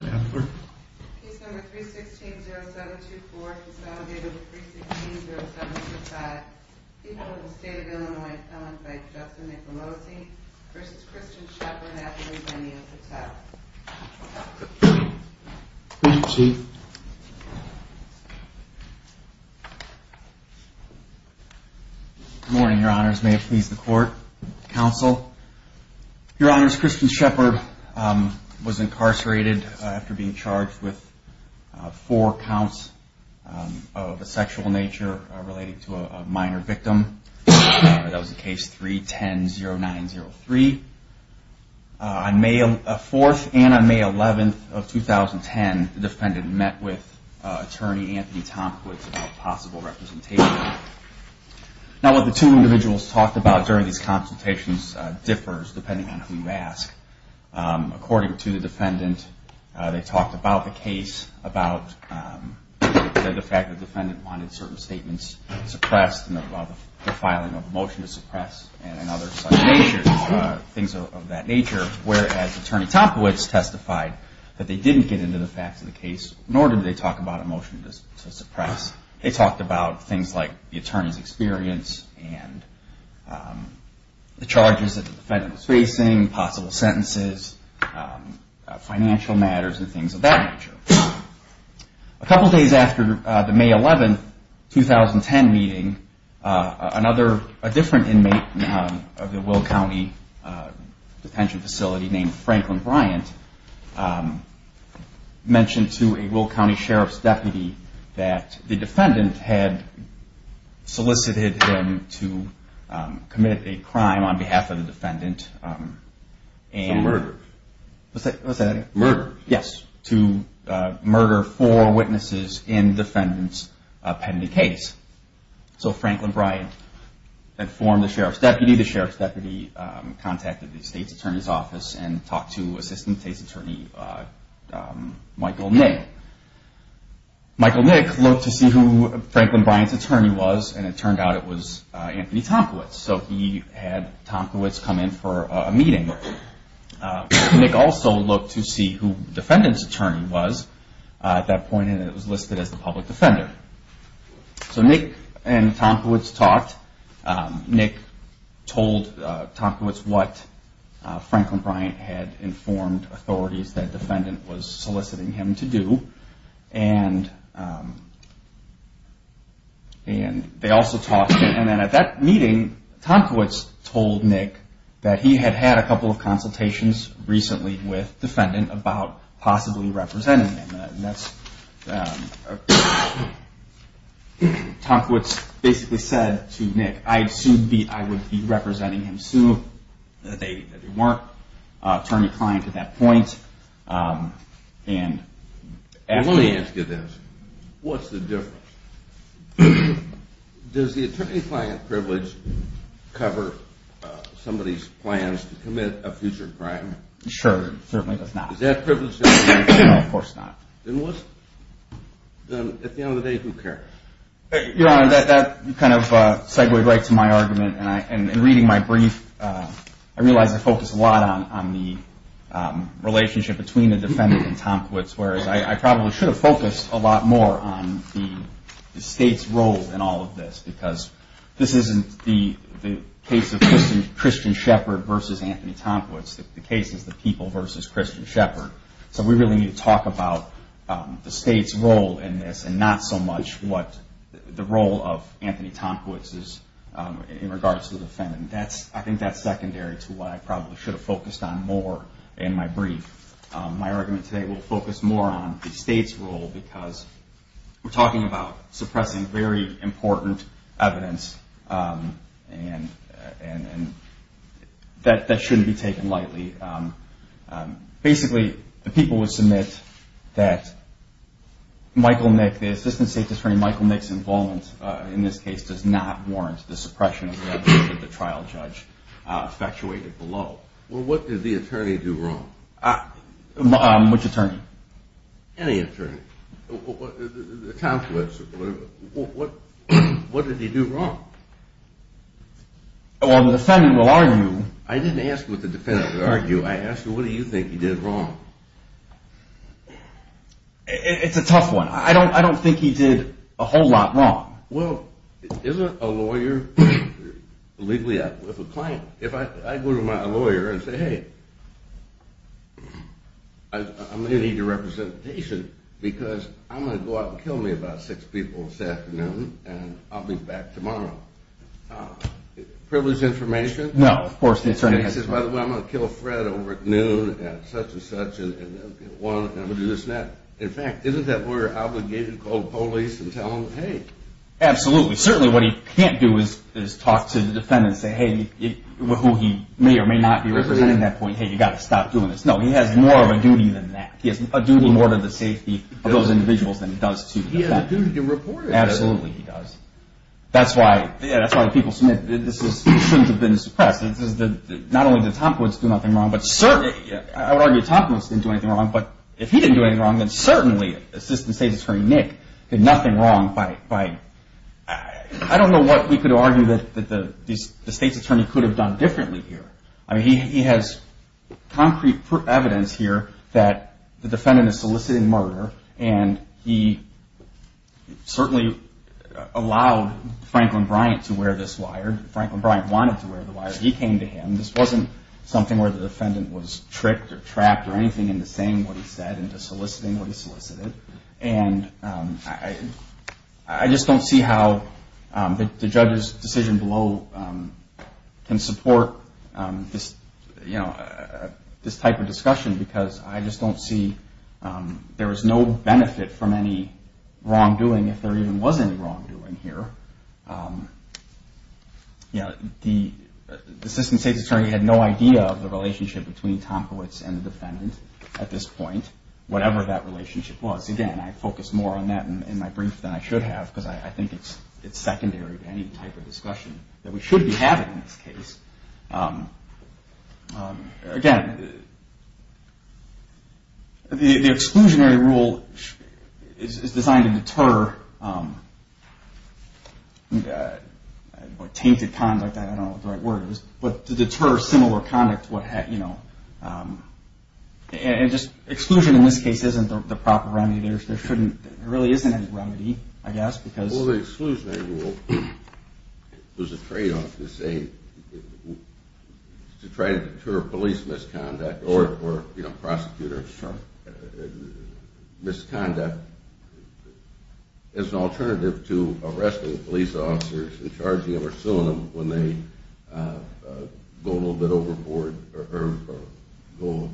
Good morning, Your Honors. May it please the Court, Counsel. Your Honors, Kristin Shepherd was incarcerated after being charged with four counts of a sexual nature related to a minor victim. That was in Case 3-10-0903. On May 4th and on May 11th of 2010, the defendant met with Attorney Anthony Tomkowitz about possible representation. Now, what the two individuals talked about during these consultations differs depending on who you ask. According to the defendant, they talked about the case, about the fact that the defendant wanted certain statements suppressed and about the filing of a motion to suppress and other things of that nature, whereas Attorney Tomkowitz testified that they didn't get into the facts of the case, nor did they talk about a defendant's experience and the charges that the defendant was facing, possible sentences, financial matters and things of that nature. A couple days after the May 11th, 2010 meeting, another, a different inmate of the Will County Detention Facility named Franklin Bryant mentioned to a Will County Sheriff's Deputy that the defendant had solicited him to commit a crime on behalf of the defendant. A murder. Yes, to murder four witnesses in the defendant's pending case. So Franklin Bryant informed the Sheriff's Deputy. The Sheriff's Deputy contacted the State's Attorney's Office and talked to Assistant State's Attorney Michael Nick. Michael Nick looked to see who Franklin Bryant's attorney was and it turned out it was Anthony Tomkowitz. So he had Tomkowitz come in for a meeting. Nick also looked to see who the defendant's attorney was at that point and it was listed as the public defender. So Nick and Tomkowitz talked. Nick told Tomkowitz what Franklin Bryant had informed authorities that the defendant was soliciting him to do. And they also talked and then at that meeting Tomkowitz told Nick that he had had a couple of consultations recently with the defendant about possibly representing him. Tomkowitz basically said to Nick I would be representing him soon. They weren't attorney-client at that point. Let me ask you this. What's the difference? Does the attorney-client privilege cover somebody's plans to commit a future crime? Sure, certainly does not. Is that privilege? No, of course not. At the end of the day, who cares? Your Honor, that kind of segued right to my argument. In reading my brief, I realized I focused a lot on the relationship between the defendant and Tomkowitz. Whereas I probably should have focused a lot more on the State's role in all of this because this isn't the case of Christian Shepard versus Anthony Tomkowitz. The case is the people versus Christian Shepard. So we really need to talk about the State's role in this and not so much the role of Anthony Tomkowitz in regards to the defendant. I think that's secondary to what I probably should have focused on more in my brief. My argument today will focus more on the State's role because we're talking about suppressing very important evidence and that shouldn't be taken lightly. Basically, the people would submit that Michael Nick, the assistant State's attorney, Michael Nick's involvement in this case does not warrant the suppression of evidence that the trial judge effectuated below. Well, what did the attorney do wrong? Which attorney? Any attorney. Tomkowitz. What did he do wrong? Well, the defendant will argue. I didn't ask what the defendant will argue. I asked what do you think he did wrong? It's a tough one. I don't think he did a whole lot wrong. Well, isn't a lawyer legally with a client? If I go to my lawyer and say, hey, I'm going to need your representation because I'm going to go out and kill me about six people this afternoon and I'll be back tomorrow. Privileged information? No, of course not. I'm going to kill Fred over at noon and such and such and I'm going to do this and that. In fact, isn't that lawyer obligated to call the police and tell them, hey? Absolutely. Certainly what he can't do is talk to the defendant and say, hey, who he may or may not be representing at that point, hey, you've got to stop doing this. No, he has more of a duty than that. He has a duty more to the safety of those individuals than he does to the defendant. He has a duty to report it. Absolutely, he does. That's why people submit that this shouldn't have been suppressed. Not only did Tomkowitz do nothing wrong, but certainly, I would argue Tomkowitz didn't do anything wrong, but if he didn't do anything wrong, then certainly Assistant State's Attorney Nick did nothing wrong by, I don't know what we could argue that the State's Attorney could have done differently here. I mean, he has concrete evidence here that the defendant is soliciting murder and he certainly allowed Franklin Bryant to wear this wire. Franklin Bryant wanted to wear the wire. He came to him. This wasn't something where the defendant was tricked or trapped or anything into saying what he said, into soliciting what he solicited. And I just don't see how the judge's decision below can support this type of discussion because I just don't see there was no benefit from any wrongdoing if there even was any wrongdoing here. The Assistant State's Attorney had no idea of the relationship between Tomkowitz and the defendant at this point, whatever that relationship was. Again, I focus more on that in my brief than I should have because I think it's secondary to any type of discussion that we should be having in this case. Again, the exclusionary rule is designed to deter tainted conduct, I don't know what the right word is, but to deter similar conduct. And just exclusion in this case isn't the proper remedy. There really isn't any remedy, I guess. Well, the exclusionary rule, there's a tradeoff to say, to try to deter police misconduct or prosecutor misconduct as an alternative to arresting police officers and charging them or suing them when they go a little bit overboard or go,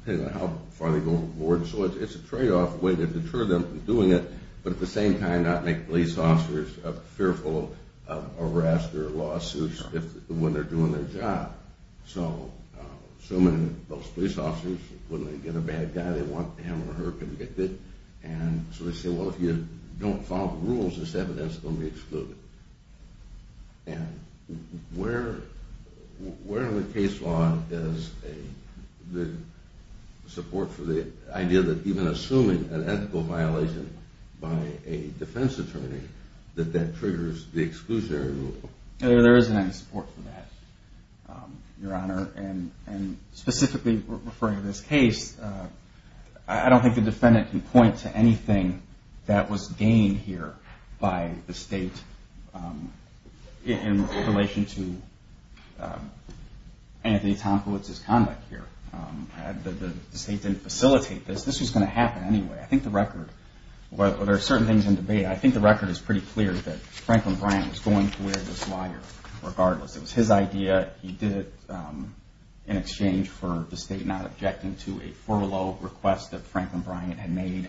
depending on how far they go overboard. So it's a tradeoff way to deter them from doing it, but at the same time not make police officers fearful of arrest or lawsuits when they're doing their job. So assuming those police officers, when they get a bad guy, they want him or her convicted, and so they say, well, if you don't follow the rules, this evidence is going to be excluded. And where in the case law is the support for the idea that even assuming an ethical violation by a defense attorney, that that triggers the exclusionary rule? There isn't any support for that, Your Honor. And specifically referring to this case, I don't think the defendant can point to anything that was gained here by the state in relation to Anthony Tomkowitz's conduct here. The state didn't facilitate this. This was going to happen anyway. I think the record, well, there are certain things in debate. I think the record is pretty clear that Franklin Bryant was going to wear this wire regardless. It was his idea. He did it in exchange for the state not objecting to a furlough request that Franklin Bryant had made.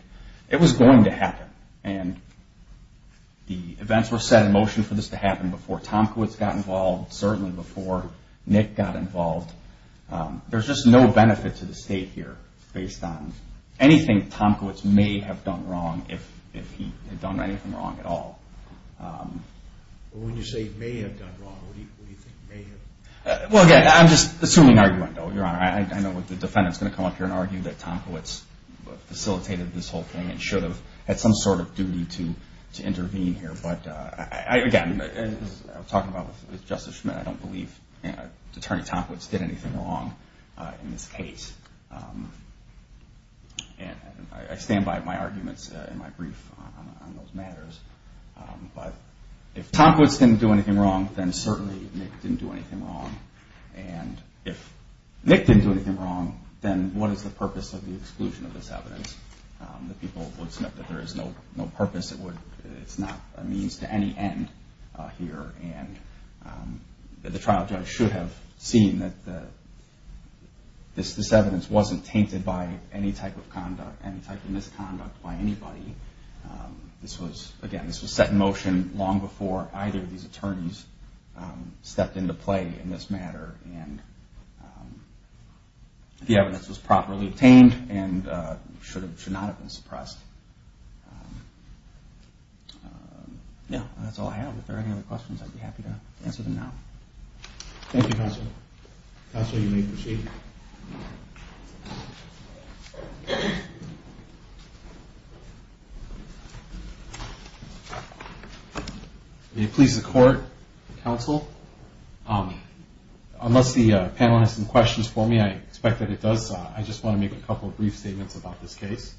It was going to happen. And the events were set in motion for this to happen before Tomkowitz got involved, certainly before Nick got involved. There's just no benefit to the state here based on anything Tomkowitz may have done wrong if he had done anything wrong at all. When you say may have done wrong, what do you think may have? Well, again, I'm just assuming argument, Your Honor. I know the defendant is going to come up here and argue that Tomkowitz facilitated this whole thing and should have had some sort of duty to intervene here. Again, as I was talking about with Justice Schmitt, I don't believe that Attorney Tomkowitz did anything wrong in this case. I stand by my arguments in my brief on those matters. But if Tomkowitz didn't do anything wrong, then certainly Nick didn't do anything wrong. And if Nick didn't do anything wrong, then what is the purpose of the exclusion of this evidence? The people would submit that there is no purpose. It's not a means to any end here. And the trial judge should have seen that this evidence wasn't tainted by any type of conduct, any type of misconduct by anybody. This was, again, this was set in motion long before either of these attorneys stepped into play in this matter. And the evidence was properly obtained and should not have been suppressed. Yeah, that's all I have. If there are any other questions, I'd be happy to answer them now. Thank you, Counsel. Counsel, you may proceed. May it please the Court, Counsel, unless the panel has some questions for me, I expect that it does. I just want to make a couple of brief statements about this case.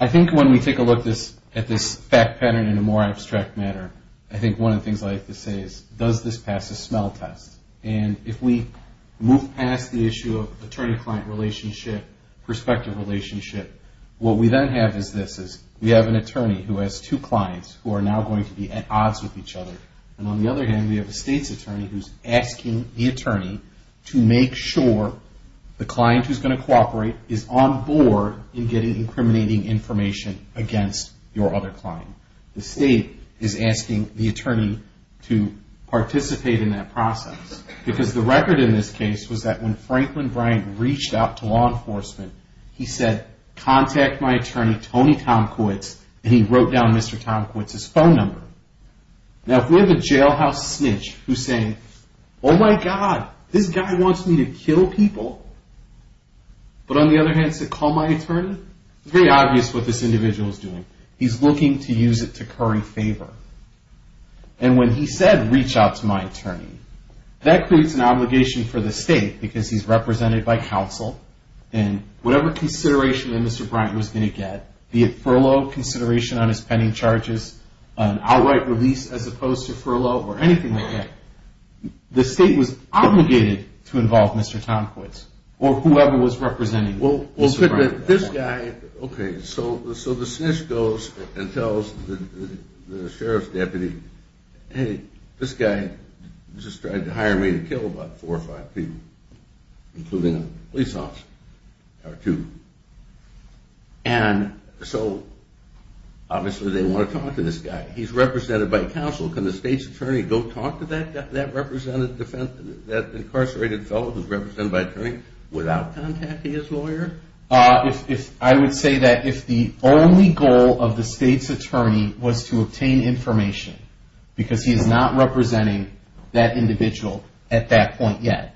I think when we take a look at this fact pattern in a more abstract manner, I think one of the things I like to say is, does this pass the smell test? And if we move past the issue of attorney-client relationship, prospective relationship, what we then have is this. We have an attorney who has two clients who are now going to be at odds with each other. And on the other hand, we have a state's attorney who's asking the attorney to make sure the client who's going to cooperate is on board in getting incriminating information against your other client. The state is asking the attorney to participate in that process. Because the record in this case was that when Franklin Bryant reached out to law enforcement, he said, contact my attorney, Tony Tomkiewicz, and he wrote down Mr. Tomkiewicz's phone number. Now, if we have a jailhouse snitch who's saying, oh my God, this guy wants me to kill people, but on the other hand said, call my attorney, it's very obvious what this individual is doing. He's looking to use it to curry favor. And when he said, reach out to my attorney, that creates an obligation for the state because he's represented by counsel. And whatever consideration that Mr. Bryant was going to get, be it furlough, consideration on his pending charges, an outright release as opposed to furlough or anything like that, the state was obligated to involve Mr. Tomkiewicz or whoever was representing Mr. Bryant. Okay, so the snitch goes and tells the sheriff's deputy, hey, this guy just tried to hire me to kill about four or five people, including a police officer or two. And so obviously they want to talk to this guy. He's represented by counsel. Can the state's attorney go talk to that incarcerated fellow who's represented by attorney without contacting his lawyer? I would say that if the only goal of the state's attorney was to obtain information, because he's not representing that individual at that point yet.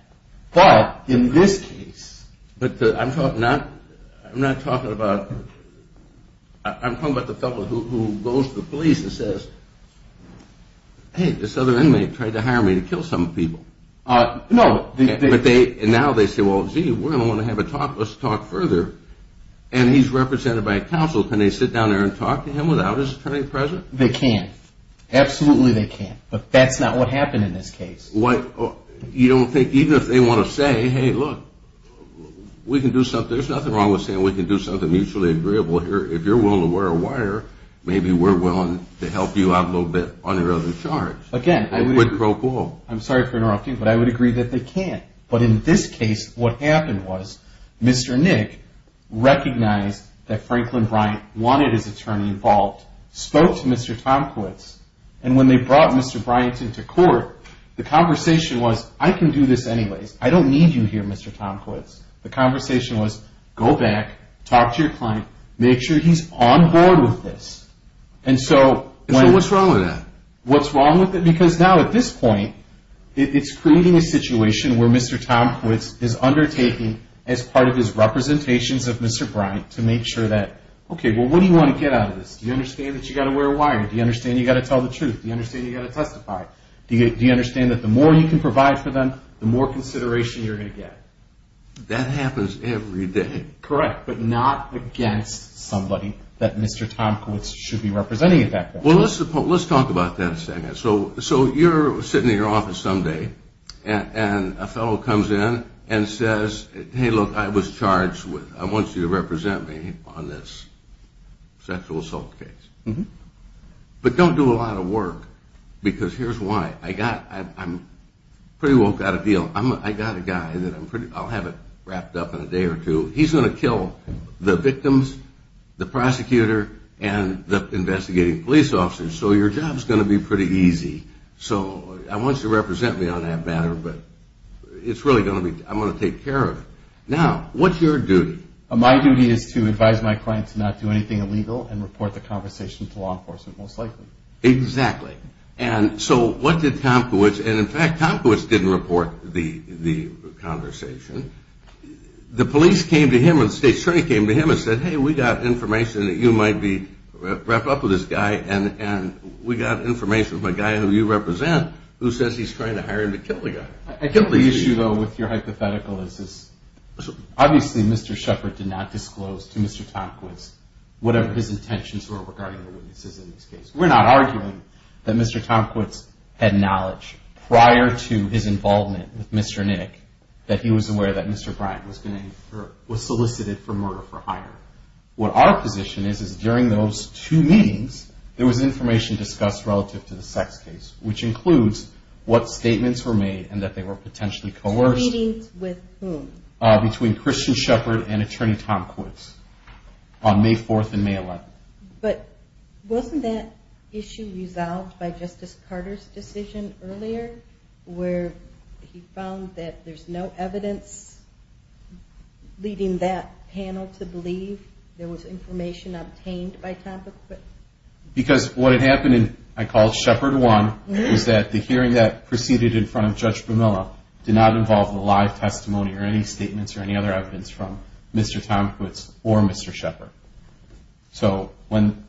But in this case... But I'm talking about the fellow who goes to the police and says, hey, this other inmate tried to hire me to kill some people. And now they say, well, gee, we're going to want to have a talk. Let's talk further. And he's represented by counsel. Can they sit down there and talk to him without his attorney present? They can. Absolutely they can. But that's not what happened in this case. You don't think even if they want to say, hey, look, we can do something. There's nothing wrong with saying we can do something mutually agreeable here. If you're willing to wear a wire, maybe we're willing to help you out a little bit on your other charge. Again, I'm sorry for interrupting, but I would agree that they can't. But in this case, what happened was Mr. Nick recognized that Franklin Bryant wanted his attorney involved, spoke to Mr. Tomkiewicz. And when they brought Mr. Bryant into court, the conversation was, I can do this anyways. I don't need you here, Mr. Tomkiewicz. The conversation was, go back, talk to your client, make sure he's on board with this. So what's wrong with that? What's wrong with it? Because now at this point, it's creating a situation where Mr. Tomkiewicz is undertaking as part of his representations of Mr. Bryant to make sure that, okay, well, what do you want to get out of this? Do you understand that you've got to wear a wire? Do you understand you've got to tell the truth? Do you understand you've got to testify? Do you understand that the more you can provide for them, the more consideration you're going to get? That happens every day. Correct, but not against somebody that Mr. Tomkiewicz should be representing. Well, let's talk about that a second. So you're sitting in your office someday, and a fellow comes in and says, hey, look, I was charged with, I want you to represent me on this sexual assault case. But don't do a lot of work, because here's why. I'm pretty well got a deal. I've got a guy that I'll have it wrapped up in a day or two. He's going to kill the victims, the prosecutor, and the investigating police officers, so your job's going to be pretty easy. So I want you to represent me on that matter, but it's really going to be, I'm going to take care of it. Now, what's your duty? My duty is to advise my client to not do anything illegal and report the conversation to law enforcement, most likely. Exactly. And so what did Tomkiewicz, and in fact Tomkiewicz didn't report the conversation. The police came to him and the state attorney came to him and said, hey, we got information that you might be wrapped up with this guy, and we got information from a guy who you represent who says he's trying to hire him to kill the guy. I think the issue, though, with your hypothetical is obviously Mr. Shepard did not disclose to Mr. Tomkiewicz whatever his intentions were regarding the witnesses in this case. We're not arguing that Mr. Tomkiewicz had knowledge prior to his involvement with Mr. Nick that he was aware that Mr. Bryant was solicited for murder for hire. What our position is, is during those two meetings, there was information discussed relative to the sex case, which includes what statements were made and that they were potentially coerced. Meetings with whom? Between Christian Shepard and Attorney Tomkiewicz on May 4th and May 11th. But wasn't that issue resolved by Justice Carter's decision earlier where he found that there's no evidence leading that panel to believe there was information obtained by Tomkiewicz? Because what had happened, I called Shepard one, was that the hearing that proceeded in front of Judge Bermilla did not involve a live testimony or any statements or any other evidence from Mr. Tomkiewicz or Mr. Shepard. So when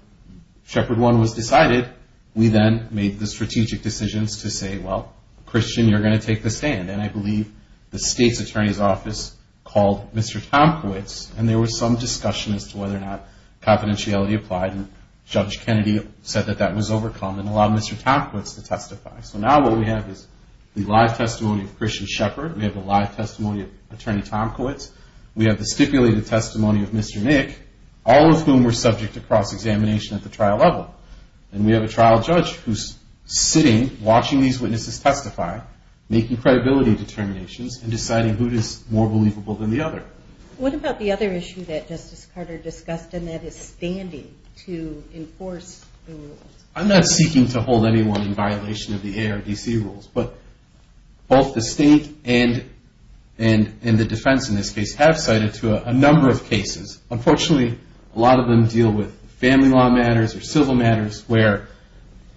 Shepard one was decided, we then made the strategic decisions to say, well, Christian, you're going to take the stand. And I believe the state's attorney's office called Mr. Tomkiewicz, and there was some discussion as to whether or not confidentiality applied. And Judge Kennedy said that that was overcome and allowed Mr. Tomkiewicz to testify. So now what we have is the live testimony of Christian Shepard. We have a live testimony of Attorney Tomkiewicz. We have the stipulated testimony of Mr. Nick, all of whom were subject to cross-examination at the trial level. And we have a trial judge who's sitting, watching these witnesses testify, making credibility determinations, and deciding who is more believable than the other. What about the other issue that Justice Carter discussed, and that is standing to enforce the rules? I'm not seeking to hold anyone in violation of the ARDC rules, but both the state and the defense in this case have cited to a number of cases. Unfortunately, a lot of them deal with family law matters or civil matters where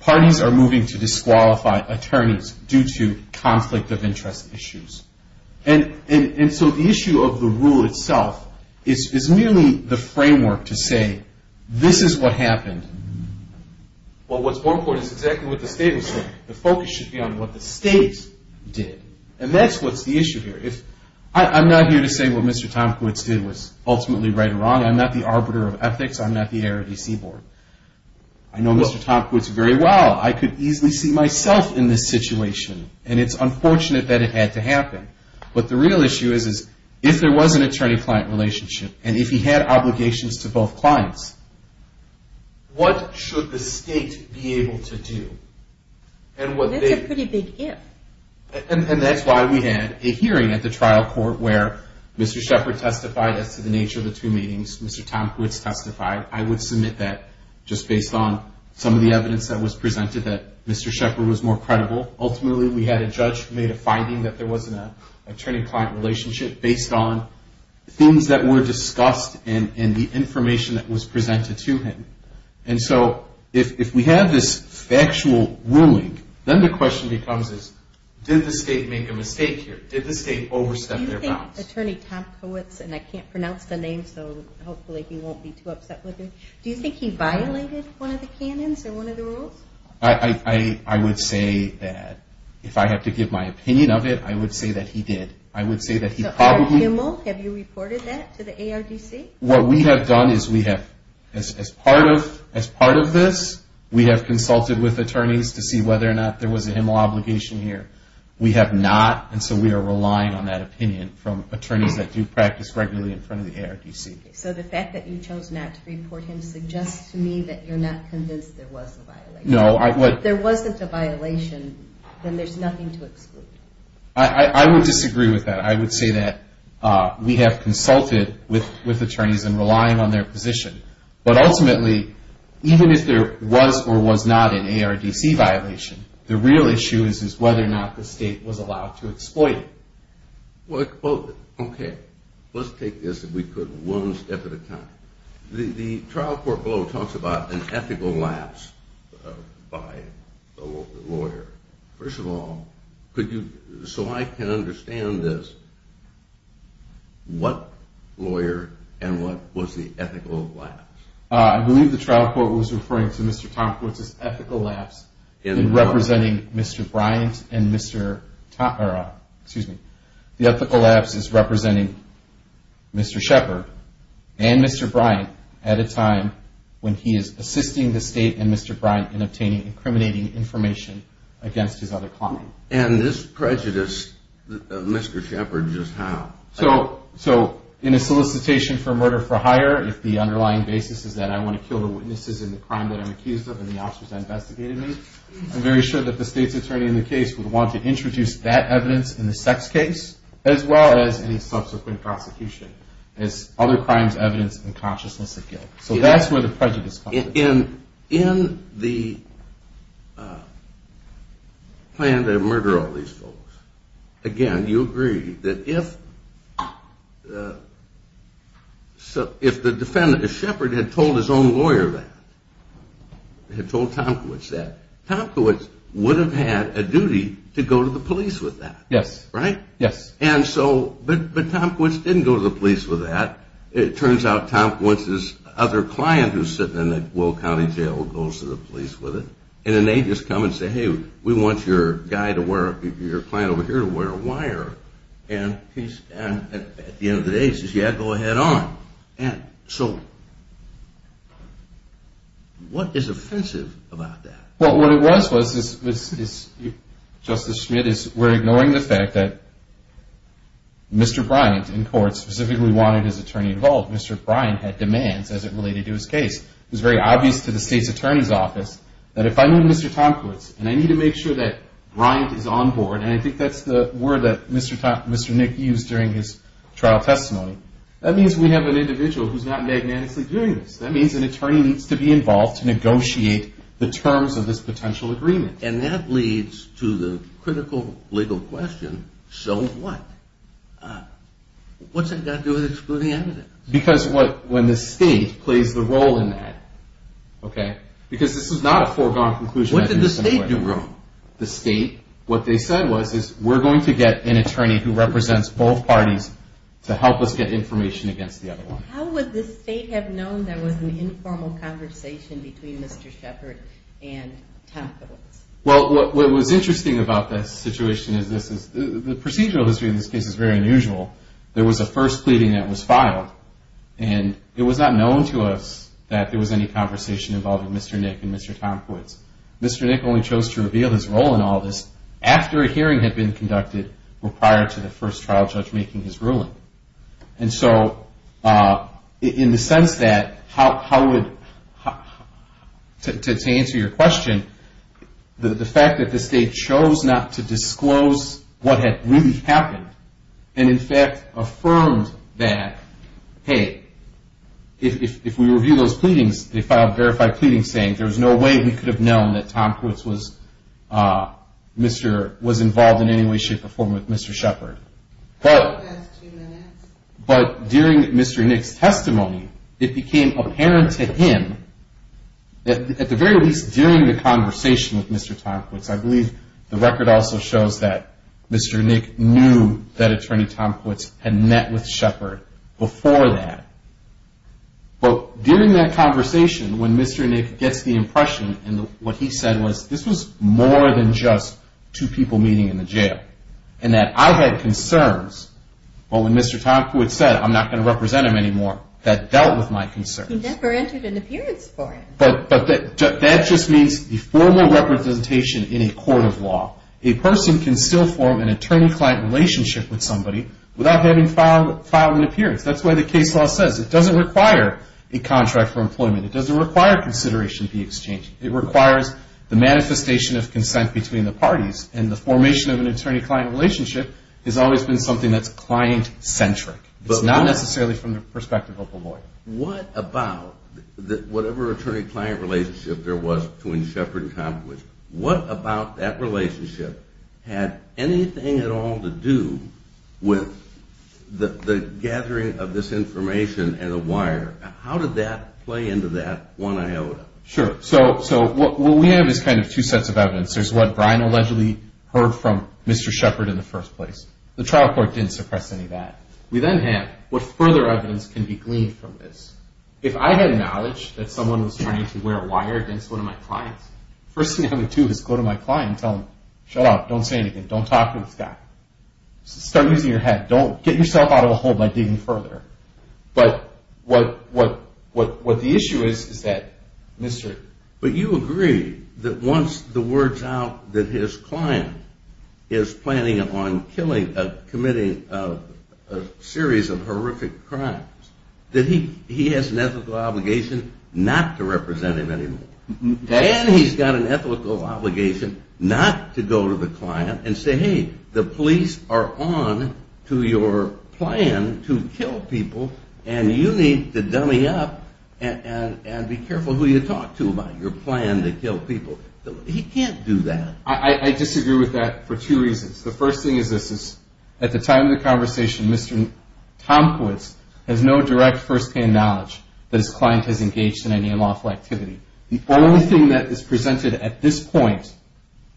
parties are moving to disqualify attorneys due to conflict of interest issues. And so the issue of the rule itself is merely the framework to say, this is what happened. Well, what's more important is exactly what the state was saying. The focus should be on what the state did. And that's what's the issue here. I'm not here to say what Mr. Tomkiewicz did was ultimately right or wrong. I'm not the arbiter of ethics. I'm not the ARDC board. I know Mr. Tomkiewicz very well. I could easily see myself in this situation. And it's unfortunate that it had to happen. But the real issue is, if there was an attorney-client relationship, and if he had obligations to both clients, what should the state be able to do? That's a pretty big if. And that's why we had a hearing at the trial court where Mr. Shepard testified as to the nature of the two meetings. Mr. Tomkiewicz testified. I would submit that just based on some of the evidence that was presented that Mr. Shepard was more credible. Ultimately, we had a judge who made a finding that there wasn't an attorney-client relationship based on things that were discussed and the information that was presented to him. And so if we have this factual ruling, then the question becomes is, did the state make a mistake here? Did the state overstep their bounds? Do you think Attorney Tomkiewicz, and I can't pronounce the name, so hopefully he won't be too upset with me. Do you think he violated one of the canons or one of the rules? I would say that, if I had to give my opinion of it, I would say that he did. I would say that he probably – So are you – have you reported that to the ARDC? What we have done is we have – as part of this, we have consulted with attorneys to see whether or not there was a HMLA obligation here. We have not, and so we are relying on that opinion from attorneys that do practice regularly in front of the ARDC. So the fact that you chose not to report him suggests to me that you're not convinced there was a violation. No, I would – If there wasn't a violation, then there's nothing to exclude. I would disagree with that. I would say that we have consulted with attorneys in relying on their position. But ultimately, even if there was or was not an ARDC violation, the real issue is whether or not the state was allowed to exploit it. Well, okay. Let's take this, if we could, one step at a time. The trial court below talks about an ethical lapse by the lawyer. First of all, could you – so I can understand this, what lawyer and what was the ethical lapse? I believe the trial court was referring to Mr. Tompkins' ethical lapse in representing Mr. Bryant and Mr. – excuse me – the ethical lapse is representing Mr. Shepard and Mr. Bryant at a time when he is assisting the state and Mr. Bryant in obtaining incriminating information against his other client. And this prejudice, Mr. Shepard, just how? So in a solicitation for murder for hire, if the underlying basis is that I want to kill the witnesses in the crime that I'm accused of and the officers that investigated me, I'm very sure that the state's attorney in the case would want to introduce that evidence in the sex case as well as any subsequent prosecution as other crimes evidence in consciousness of guilt. So that's where the prejudice comes in. In the plan to murder all these folks, again, you agree that if the defendant, if Shepard had told his own lawyer that, had told Tompkins that, Tompkins would have had a duty to go to the police with that. Yes. Right? Yes. And so, but Tompkins didn't go to the police with that. It turns out Tompkins' other client who's sitting in the Will County Jail goes to the police with it. And then they just come and say, hey, we want your guy to wear, your client over here to wear a wire. And at the end of the day, he says, yeah, go ahead on. And so, what is offensive about that? Well, what it was, Justice Schmidt, is we're ignoring the fact that Mr. Bryant in court specifically wanted his attorney involved. Mr. Bryant had demands as it related to his case. It was very obvious to the state's attorney's office that if I knew Mr. Tompkins and I need to make sure that Bryant is on board, and I think that's the word that Mr. Nick used during his trial testimony, that means we have an individual who's not magnanimously doing this. That means an attorney needs to be involved to negotiate the terms of this potential agreement. And that leads to the critical legal question, so what? What's that got to do with excluding evidence? Because when the state plays the role in that, okay, because this is not a foregone conclusion. What did the state do wrong? The state, what they said was, is we're going to get an attorney who represents both parties to help us get information against the other one. How would the state have known there was an informal conversation between Mr. Shepard and Tompkins? Well, what was interesting about that situation is the procedural history in this case is very unusual. There was a first pleading that was filed, and it was not known to us that there was any conversation involving Mr. Nick and Mr. Tompkins. Mr. Nick only chose to reveal his role in all this after a hearing had been conducted prior to the first trial judge making his ruling. And so in the sense that how would, to answer your question, the fact that the state chose not to disclose what had really happened, and in fact affirmed that, hey, if we review those pleadings, they filed verified pleadings saying there was no way we could have known that Tompkins was involved in any way, shape, or form with Mr. Shepard. But during Mr. Nick's testimony, it became apparent to him, at the very least during the conversation with Mr. Tompkins, I believe the record also shows that Mr. Nick knew that Attorney Tompkins had met with Shepard before that. But during that conversation, when Mr. Nick gets the impression, and what he said was, this was more than just two people meeting in the jail, and that I had concerns when Mr. Tompkins said, I'm not going to represent him anymore, that dealt with my concerns. He never entered an appearance for him. But that just means the formal representation in a court of law. A person can still form an attorney-client relationship with somebody without having filed an appearance. That's why the case law says it doesn't require a contract for employment. It doesn't require consideration of the exchange. It requires the manifestation of consent between the parties. And the formation of an attorney-client relationship has always been something that's client-centric. It's not necessarily from the perspective of a lawyer. What about whatever attorney-client relationship there was between Shepard and Tompkins, what about that relationship had anything at all to do with the gathering of this information and the wire? How did that play into that one iota? Sure. So what we have is kind of two sets of evidence. There's what Brian allegedly heard from Mr. Shepard in the first place. The trial court didn't suppress any of that. We then have what further evidence can be gleaned from this. If I had knowledge that someone was trying to wear a wire against one of my clients, the first thing I would do is go to my client and tell him, shut up, don't say anything, don't talk to this guy. Start using your head. Don't get yourself out of a hole by digging further. But what the issue is, is that Mr. But you agree that once the word's out that his client is planning on committing a series of horrific crimes, that he has an ethical obligation not to represent him anymore. And he's got an ethical obligation not to go to the client and say, hey, the police are on to your plan to kill people, and you need to dummy up and be careful who you talk to about your plan to kill people. He can't do that. I disagree with that for two reasons. The first thing is this, is at the time of the conversation, Mr. Tomkiewicz has no direct first-hand knowledge that his client has engaged in any unlawful activity. The only thing that is presented at this point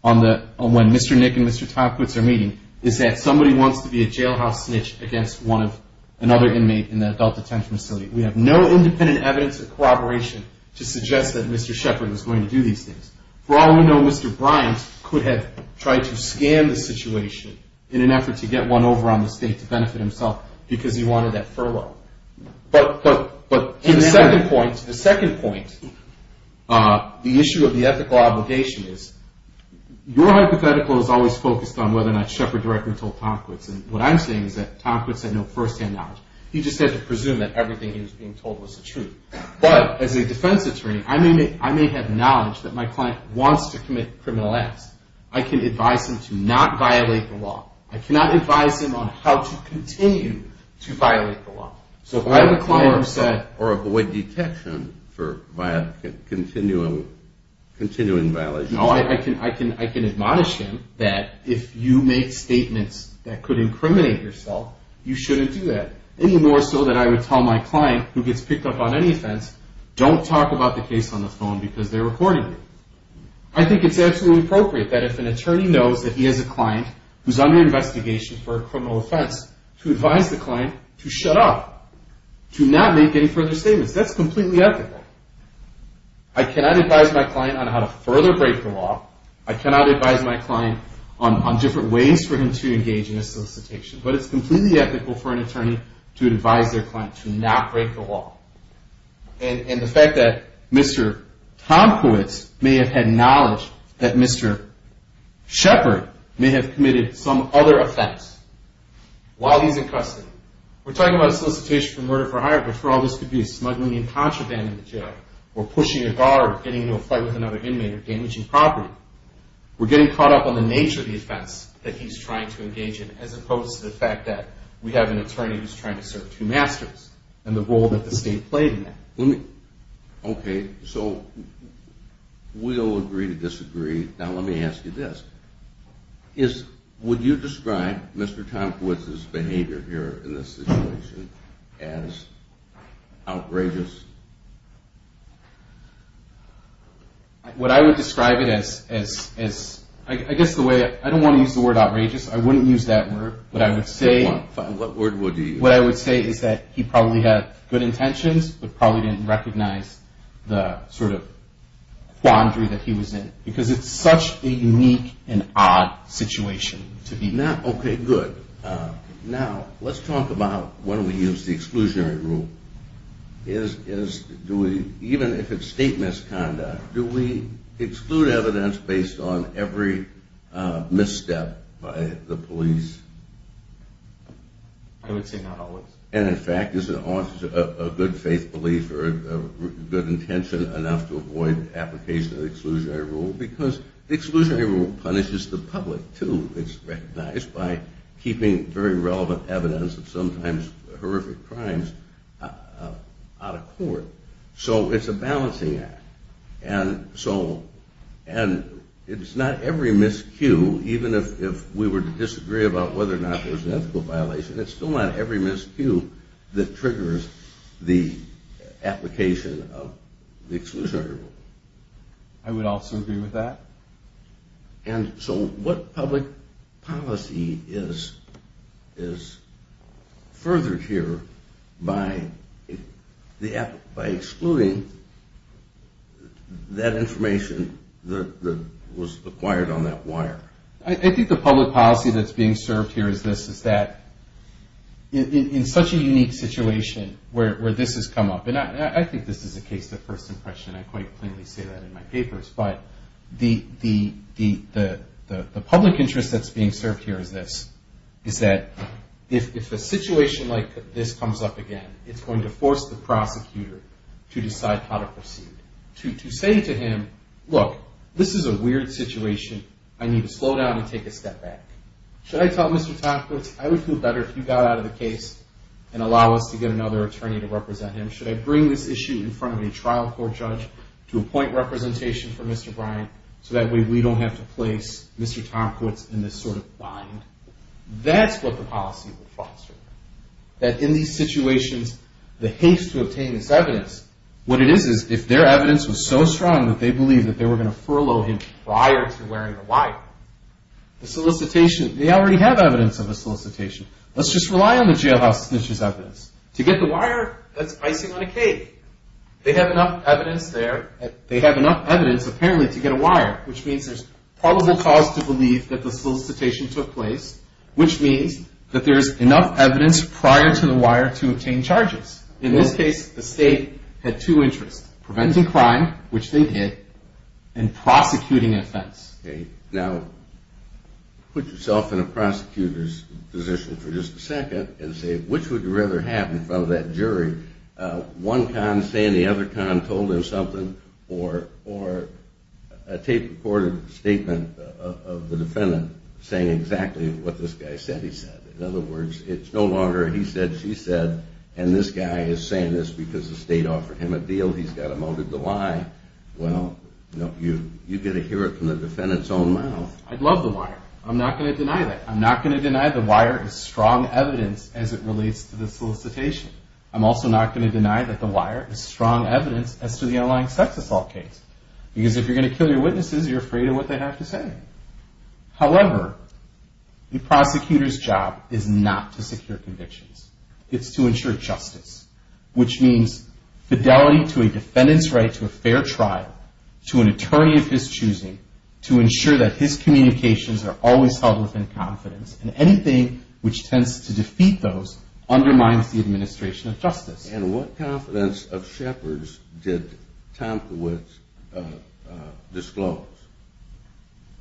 on when Mr. Nick and Mr. Tomkiewicz are meeting, is that somebody wants to be a jailhouse snitch against another inmate in the adult detention facility. We have no independent evidence of corroboration to suggest that Mr. Shepard was going to do these things. For all we know, Mr. Bryant could have tried to scam the situation in an effort to get one over on the state to benefit himself because he wanted that furlough. But to the second point, the issue of the ethical obligation is, your hypothetical is always focused on whether or not Shepard directly told Tomkiewicz, and what I'm saying is that Tomkiewicz had no first-hand knowledge. He just had to presume that everything he was being told was the truth. But as a defense attorney, I may have knowledge that my client wants to commit criminal acts. I can advise him to not violate the law. I cannot advise him on how to continue to violate the law. So if I have a client who said... Or avoid detection for continuing violations. No, I can admonish him that if you make statements that could incriminate yourself, you shouldn't do that. Any more so that I would tell my client, who gets picked up on any offense, don't talk about the case on the phone because they're recording it. I think it's absolutely appropriate that if an attorney knows that he has a client who's under investigation for a criminal offense, to advise the client to shut up, to not make any further statements. That's completely ethical. I cannot advise my client on how to further break the law. I cannot advise my client on different ways for him to engage in a solicitation. But it's completely ethical for an attorney to advise their client to not break the law. And the fact that Mr. Tomkowitz may have had knowledge that Mr. Shepard may have committed some other offense while he's in custody. We're talking about a solicitation for murder for hire, but for all this could be a smuggling and contraband in the jail, or pushing a guard, getting into a fight with another inmate, or damaging property. We're getting caught up on the nature of the offense that he's trying to engage in, as opposed to the fact that we have an attorney who's trying to serve two masters and the role that the state played in that. Okay, so we'll agree to disagree. Now let me ask you this. Would you describe Mr. Tomkowitz's behavior here in this situation as outrageous? What I would describe it as, I guess the way, I don't want to use the word outrageous. I wouldn't use that word. What word would you use? What I would say is that he probably had good intentions, but probably didn't recognize the sort of quandary that he was in, because it's such a unique and odd situation to be in. Okay, good. Now let's talk about when we use the exclusionary rule. Even if it's state misconduct, do we exclude evidence based on every misstep by the police? I would say not always. And, in fact, is a good faith belief or a good intention enough to avoid application of the exclusionary rule? Because the exclusionary rule punishes the public, too. It's recognized by keeping very relevant evidence of sometimes horrific crimes out of court. So it's a balancing act. And it's not every miscue, even if we were to disagree about whether or not there was an ethical violation, it's still not every miscue that triggers the application of the exclusionary rule. I would also agree with that. And so what public policy is furthered here by excluding that information that was acquired on that wire? I think the public policy that's being served here is this, is that in such a unique situation where this has come up, and I think this is a case of first impression, I quite plainly say that in my papers, but the public interest that's being served here is this, is that if a situation like this comes up again, it's going to force the prosecutor to decide how to proceed. To say to him, look, this is a weird situation. I need to slow down and take a step back. Should I tell Mr. Tompkins, I would feel better if you got out of the case and allow us to get another attorney to represent him? Should I bring this issue in front of a trial court judge to appoint representation for Mr. Bryant so that way we don't have to place Mr. Tompkins in this sort of bind? That's what the policy would foster. That in these situations, the haste to obtain this evidence, what it is is if their evidence was so strong that they believed that they were going to furlough him prior to wearing the wire, the solicitation, they already have evidence of a solicitation. Let's just rely on the jailhouse to get this evidence. To get the wire, that's icing on a cake. They have enough evidence there. They have enough evidence, apparently, to get a wire, which means there's probable cause to believe that the solicitation took place, which means that there's enough evidence prior to the wire to obtain charges. In this case, the state had two interests, preventing crime, which they did, and prosecuting an offense. Now, put yourself in a prosecutor's position for just a second and say, which would you rather have in front of that jury, one con saying the other con told him something or a tape-recorded statement of the defendant saying exactly what this guy said he said? In other words, it's no longer he said, she said, and this guy is saying this because the state offered him a deal, he's got him out of the lie. Well, you get to hear it from the defendant's own mouth. I'd love the wire. I'm not going to deny that. I'm not going to deny the wire is strong evidence as it relates to the solicitation. I'm also not going to deny that the wire is strong evidence as to the underlying sex assault case, because if you're going to kill your witnesses, you're afraid of what they have to say. However, the prosecutor's job is not to secure convictions. It's to ensure justice, which means fidelity to a defendant's right to a fair trial, to an attorney of his choosing, to ensure that his communications are always held within confidence, and anything which tends to defeat those undermines the administration of justice. And what confidence of Shepard's did Tomkawicz disclose?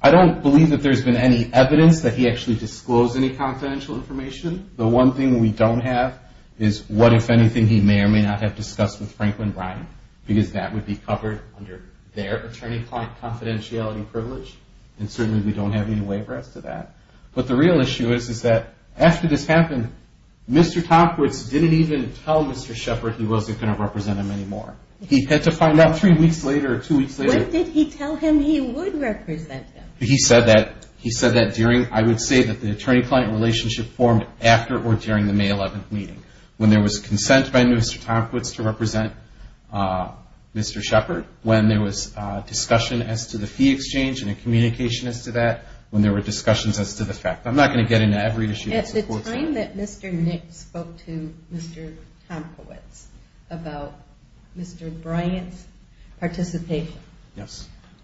I don't believe that there's been any evidence that he actually disclosed any confidential information. The one thing we don't have is what, if anything, he may or may not have discussed with Franklin Bryant, because that would be covered under their attorney-client confidentiality privilege, and certainly we don't have any way for us to that. But the real issue is that after this happened, Mr. Tomkawicz didn't even tell Mr. Shepard he wasn't going to represent him anymore. He had to find out three weeks later or two weeks later. When did he tell him he would represent him? He said that during, I would say that the attorney-client relationship formed after or during the May 11th meeting, when there was consent by Mr. Tomkawicz to represent Mr. Shepard, when there was discussion as to the fee exchange and a communication as to that, when there were discussions as to the fact. I'm not going to get into every issue that supports that. At the time that Mr. Nick spoke to Mr. Tomkawicz about Mr. Bryant's participation,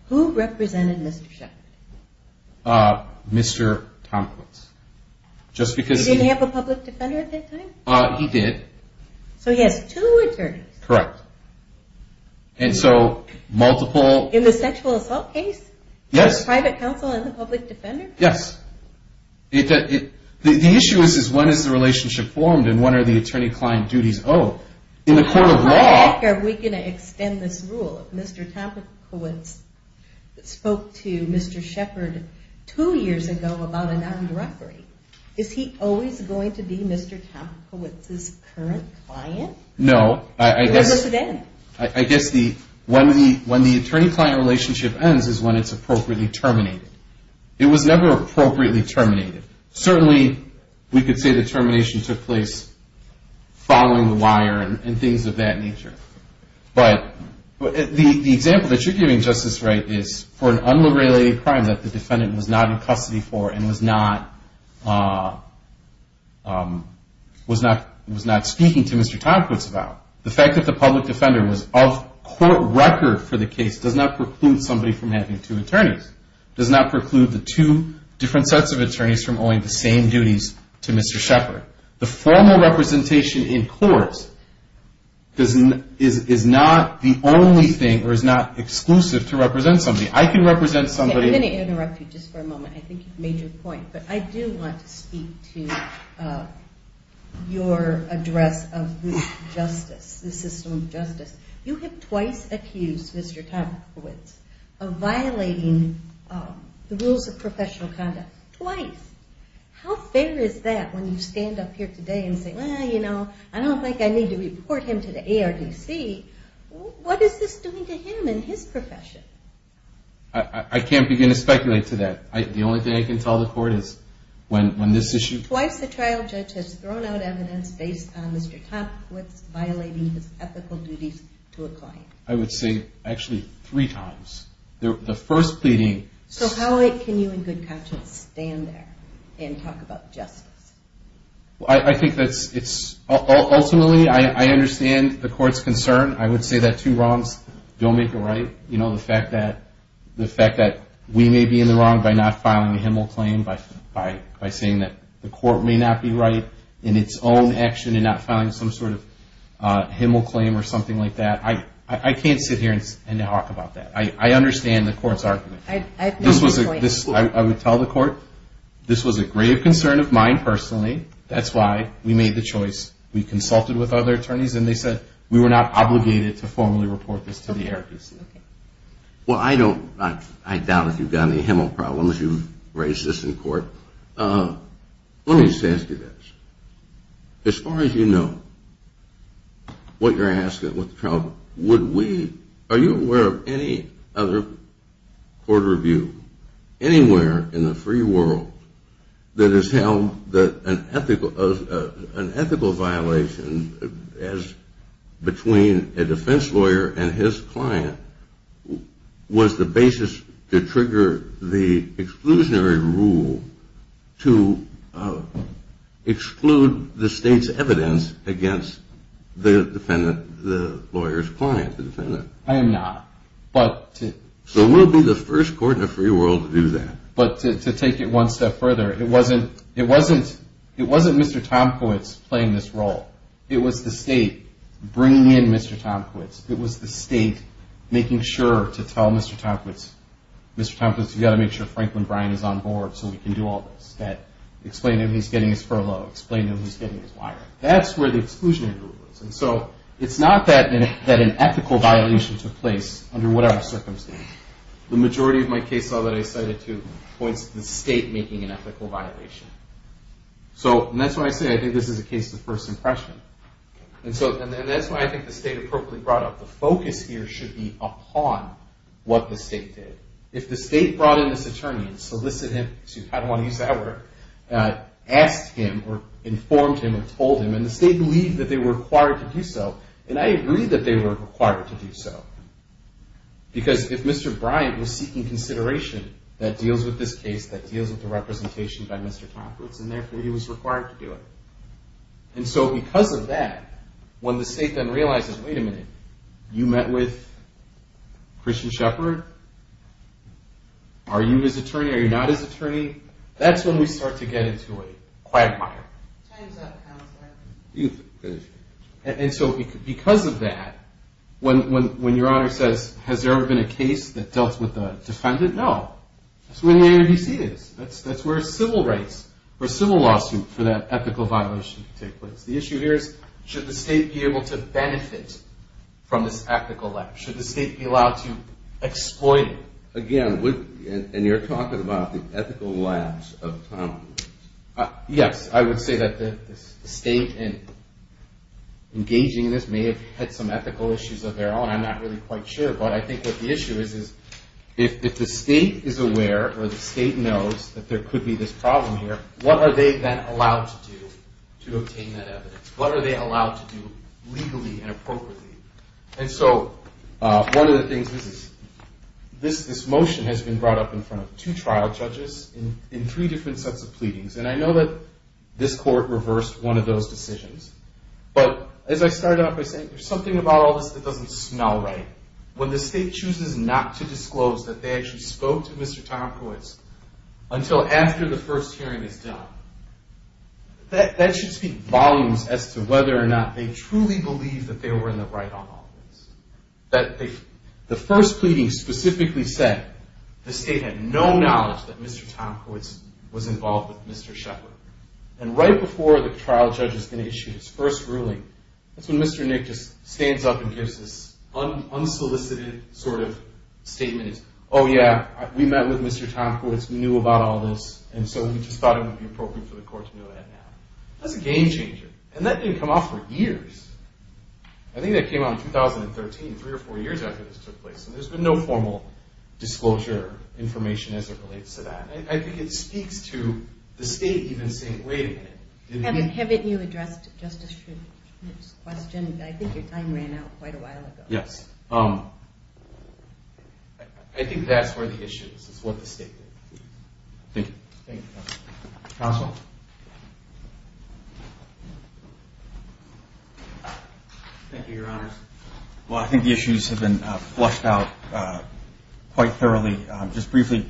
who represented Mr. Shepard? Mr. Tomkawicz. Did he have a public defender at that time? He did. So he has two attorneys. Correct. And so multiple. In the sexual assault case? Yes. The private counsel and the public defender? Yes. The issue is when is the relationship formed and when are the attorney-client duties owed? Are we going to extend this rule? Mr. Tomkawicz spoke to Mr. Shepard two years ago about a non-referee. Is he always going to be Mr. Tomkawicz's current client? No. When does it end? I guess when the attorney-client relationship ends is when it's appropriately terminated. It was never appropriately terminated. Certainly, we could say the termination took place following the wire and things of that nature. But the example that you're giving, Justice Wright, is for an unrelated crime that the defendant was not in custody for and was not speaking to Mr. Tomkawicz about. The fact that the public defender was off court record for the case does not preclude somebody from having two attorneys. It does not preclude the two different sets of attorneys from owing the same duties to Mr. Shepard. The formal representation in court is not the only thing or is not exclusive to represent somebody. I can represent somebody. I'm going to interrupt you just for a moment. I think you've made your point. But I do want to speak to your address of the justice, the system of justice. You have twice accused Mr. Tomkawicz of violating the rules of professional conduct. Twice. How fair is that when you stand up here today and say, Well, you know, I don't think I need to report him to the ARDC. What is this doing to him and his profession? I can't begin to speculate to that. The only thing I can tell the court is when this issue Twice the trial judge has thrown out evidence based on Mr. Tomkawicz violating his ethical duties to a client. I would say actually three times. The first pleading. So how can you in good conscience stand there and talk about justice? I think it's ultimately, I understand the court's concern. I would say that two wrongs don't make a right. You know, the fact that we may be in the wrong by not filing a Himmel claim, by saying that the court may not be right in its own action and not filing some sort of Himmel claim or something like that. I can't sit here and talk about that. I understand the court's argument. I would tell the court this was a grave concern of mine personally. That's why we made the choice. We consulted with other attorneys, and they said we were not obligated to formally report this to the ARDC. Well, I doubt if you've got any Himmel problems. You've raised this in court. Let me just ask you this. As far as you know, what you're asking with the trial, are you aware of any other court review anywhere in the free world that has held that an ethical violation between a defense lawyer and his client was the basis to trigger the exclusionary rule to exclude the state's evidence against the lawyer's client, the defendant? I am not. So we'll be the first court in the free world to do that. But to take it one step further, it wasn't Mr. Tomkiewicz playing this role. It was the state bringing in Mr. Tomkiewicz. It was the state making sure to tell Mr. Tomkiewicz, Mr. Tomkiewicz, you've got to make sure Franklin Bryant is on board so we can do all this. Explain to him he's getting his furlough. Explain to him he's getting his wire. That's where the exclusionary rule was. And so it's not that an ethical violation took place under whatever circumstance. The majority of my case law that I cited, too, points to the state making an ethical violation. And that's why I say I think this is a case of first impression. And that's why I think the state appropriately brought up the focus here should be upon what the state did. If the state brought in this attorney and solicited him, excuse me, I don't want to use that word, asked him or informed him or told him, and the state believed that they were required to do so, and I agree that they were required to do so. Because if Mr. Bryant was seeking consideration that deals with this case, that deals with the representation by Mr. Tomkiewicz, and therefore he was required to do it. And so because of that, when the state then realizes, wait a minute, you met with Christian Shepard? Are you his attorney? Are you not his attorney? That's when we start to get into a quagmire. Time's up, Counselor. You can finish. And so because of that, when your Honor says, has there ever been a case that dealt with a defendant? No. That's where the NADC is. That's where civil rights or civil lawsuit for that ethical violation take place. The issue here is should the state be able to benefit from this ethical lapse? Should the state be allowed to exploit it? Again, and you're talking about the ethical lapse of Tomkiewicz. Yes, I would say that the state engaging in this may have had some ethical issues of their own. I'm not really quite sure. But I think what the issue is is if the state is aware or the state knows that there could be this problem here, what are they then allowed to do to obtain that evidence? What are they allowed to do legally and appropriately? And so one of the things is this motion has been brought up in front of two trial judges in three different sets of pleadings. And I know that this court reversed one of those decisions. But as I started off by saying, there's something about all this that doesn't smell right. When the state chooses not to disclose that they actually spoke to Mr. Tomkiewicz until after the first hearing is done, that should speak volumes as to whether or not they truly believe that they were in the right on all this. The first pleading specifically said the state had no knowledge that Mr. Tomkiewicz was involved with Mr. Shepard. And right before the trial judge is going to issue his first ruling, that's when Mr. Nick just stands up and gives this unsolicited sort of statement. Oh, yeah, we met with Mr. Tomkiewicz. We knew about all this. And so we just thought it would be appropriate for the court to know that now. That's a game changer. And that didn't come off for years. I think that came out in 2013, three or four years after this took place. And there's been no formal disclosure information as it relates to that. I think it speaks to the state even saying, wait a minute. Haven't you addressed Justice Shepard's question? I think your time ran out quite a while ago. Yes. I think that's where the issue is, is what the state did. Thank you. Thank you, counsel. Counsel? Thank you, Your Honors. Well, I think the issues have been flushed out quite thoroughly. Just briefly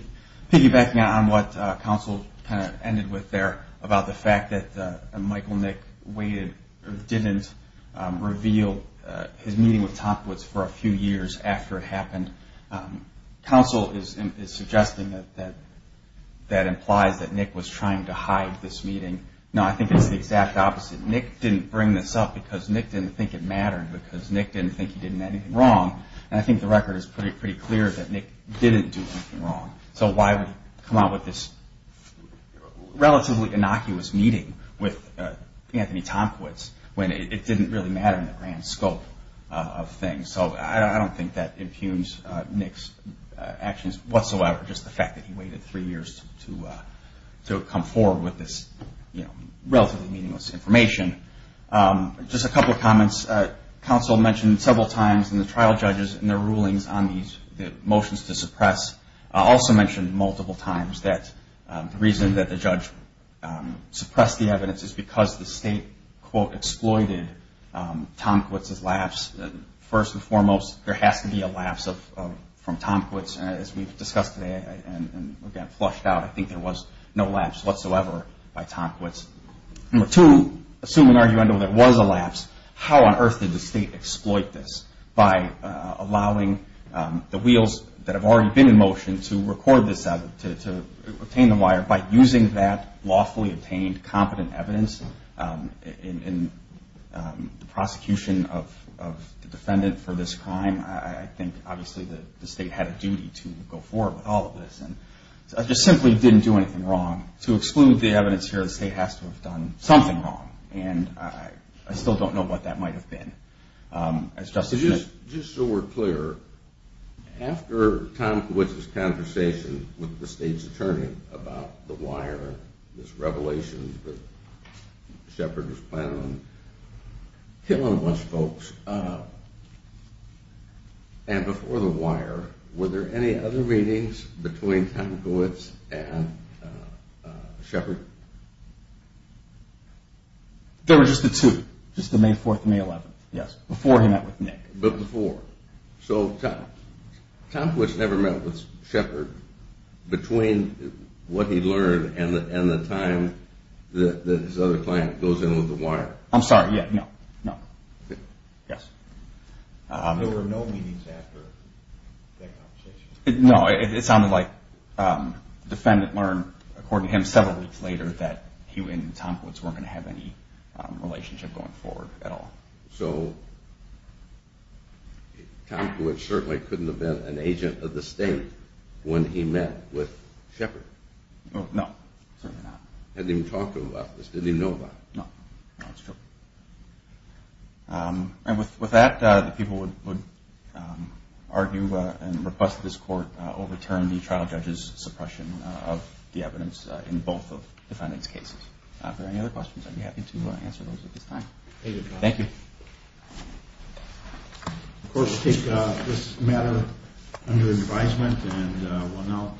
piggybacking on what counsel kind of ended with there about the fact that Michael Nick waited or didn't reveal his meeting with Tomkiewicz for a few years after it happened. Counsel is suggesting that that implies that Nick was trying to hide this meeting. No, I think it's the exact opposite. Nick didn't bring this up because Nick didn't think it mattered, because Nick didn't think he did anything wrong. And I think the record is pretty clear that Nick didn't do anything wrong. So why would he come out with this relatively innocuous meeting with Anthony Tomkiewicz when it didn't really matter in the grand scope of things? So I don't think that impugns Nick's actions whatsoever, just the fact that he waited three years to come forward with this relatively meaningless information. Just a couple of comments. Counsel mentioned several times in the trial judges in their rulings on the motions to suppress, also mentioned multiple times that the reason that the judge suppressed the evidence is because the state, quote, exploited Tomkiewicz's laughs. First and foremost, there has to be a laugh from Tomkiewicz. As we've discussed today, and again, flushed out, I think there was no laughs whatsoever by Tomkiewicz. Number two, assuming, arguably, there was a laugh, how on earth did the state exploit this by allowing the wheels that have already been in motion to record this, to obtain the wire, and by using that lawfully obtained, competent evidence in the prosecution of the defendant for this crime, I think, obviously, that the state had a duty to go forward with all of this. I just simply didn't do anything wrong. To exclude the evidence here, the state has to have done something wrong, and I still don't know what that might have been. Just so we're clear, after Tomkiewicz's conversation with the state's attorney about the wire, this revelation that Shepard was planning on killing most folks, and before the wire, were there any other meetings between Tomkiewicz and Shepard? There were just the two, just the May 4th and May 11th, yes, before he met with Nick. But before, so Tomkiewicz never met with Shepard between what he learned and the time that his other client goes in with the wire? I'm sorry, yeah, no, no, yes. There were no meetings after that conversation? No, it sounded like the defendant learned, according to him, several weeks later, that he and Tomkiewicz weren't going to have any relationship going forward at all. So Tomkiewicz certainly couldn't have been an agent of the state when he met with Shepard? No, certainly not. Hadn't even talked to him about this, didn't even know about it? No, no, that's true. And with that, the people would argue and request that this court overturn the trial judge's suppression of the evidence in both of the defendant's cases. If there are any other questions, I'd be happy to answer those at this time. Thank you. Of course, take this matter under advisement, and we'll now take a break.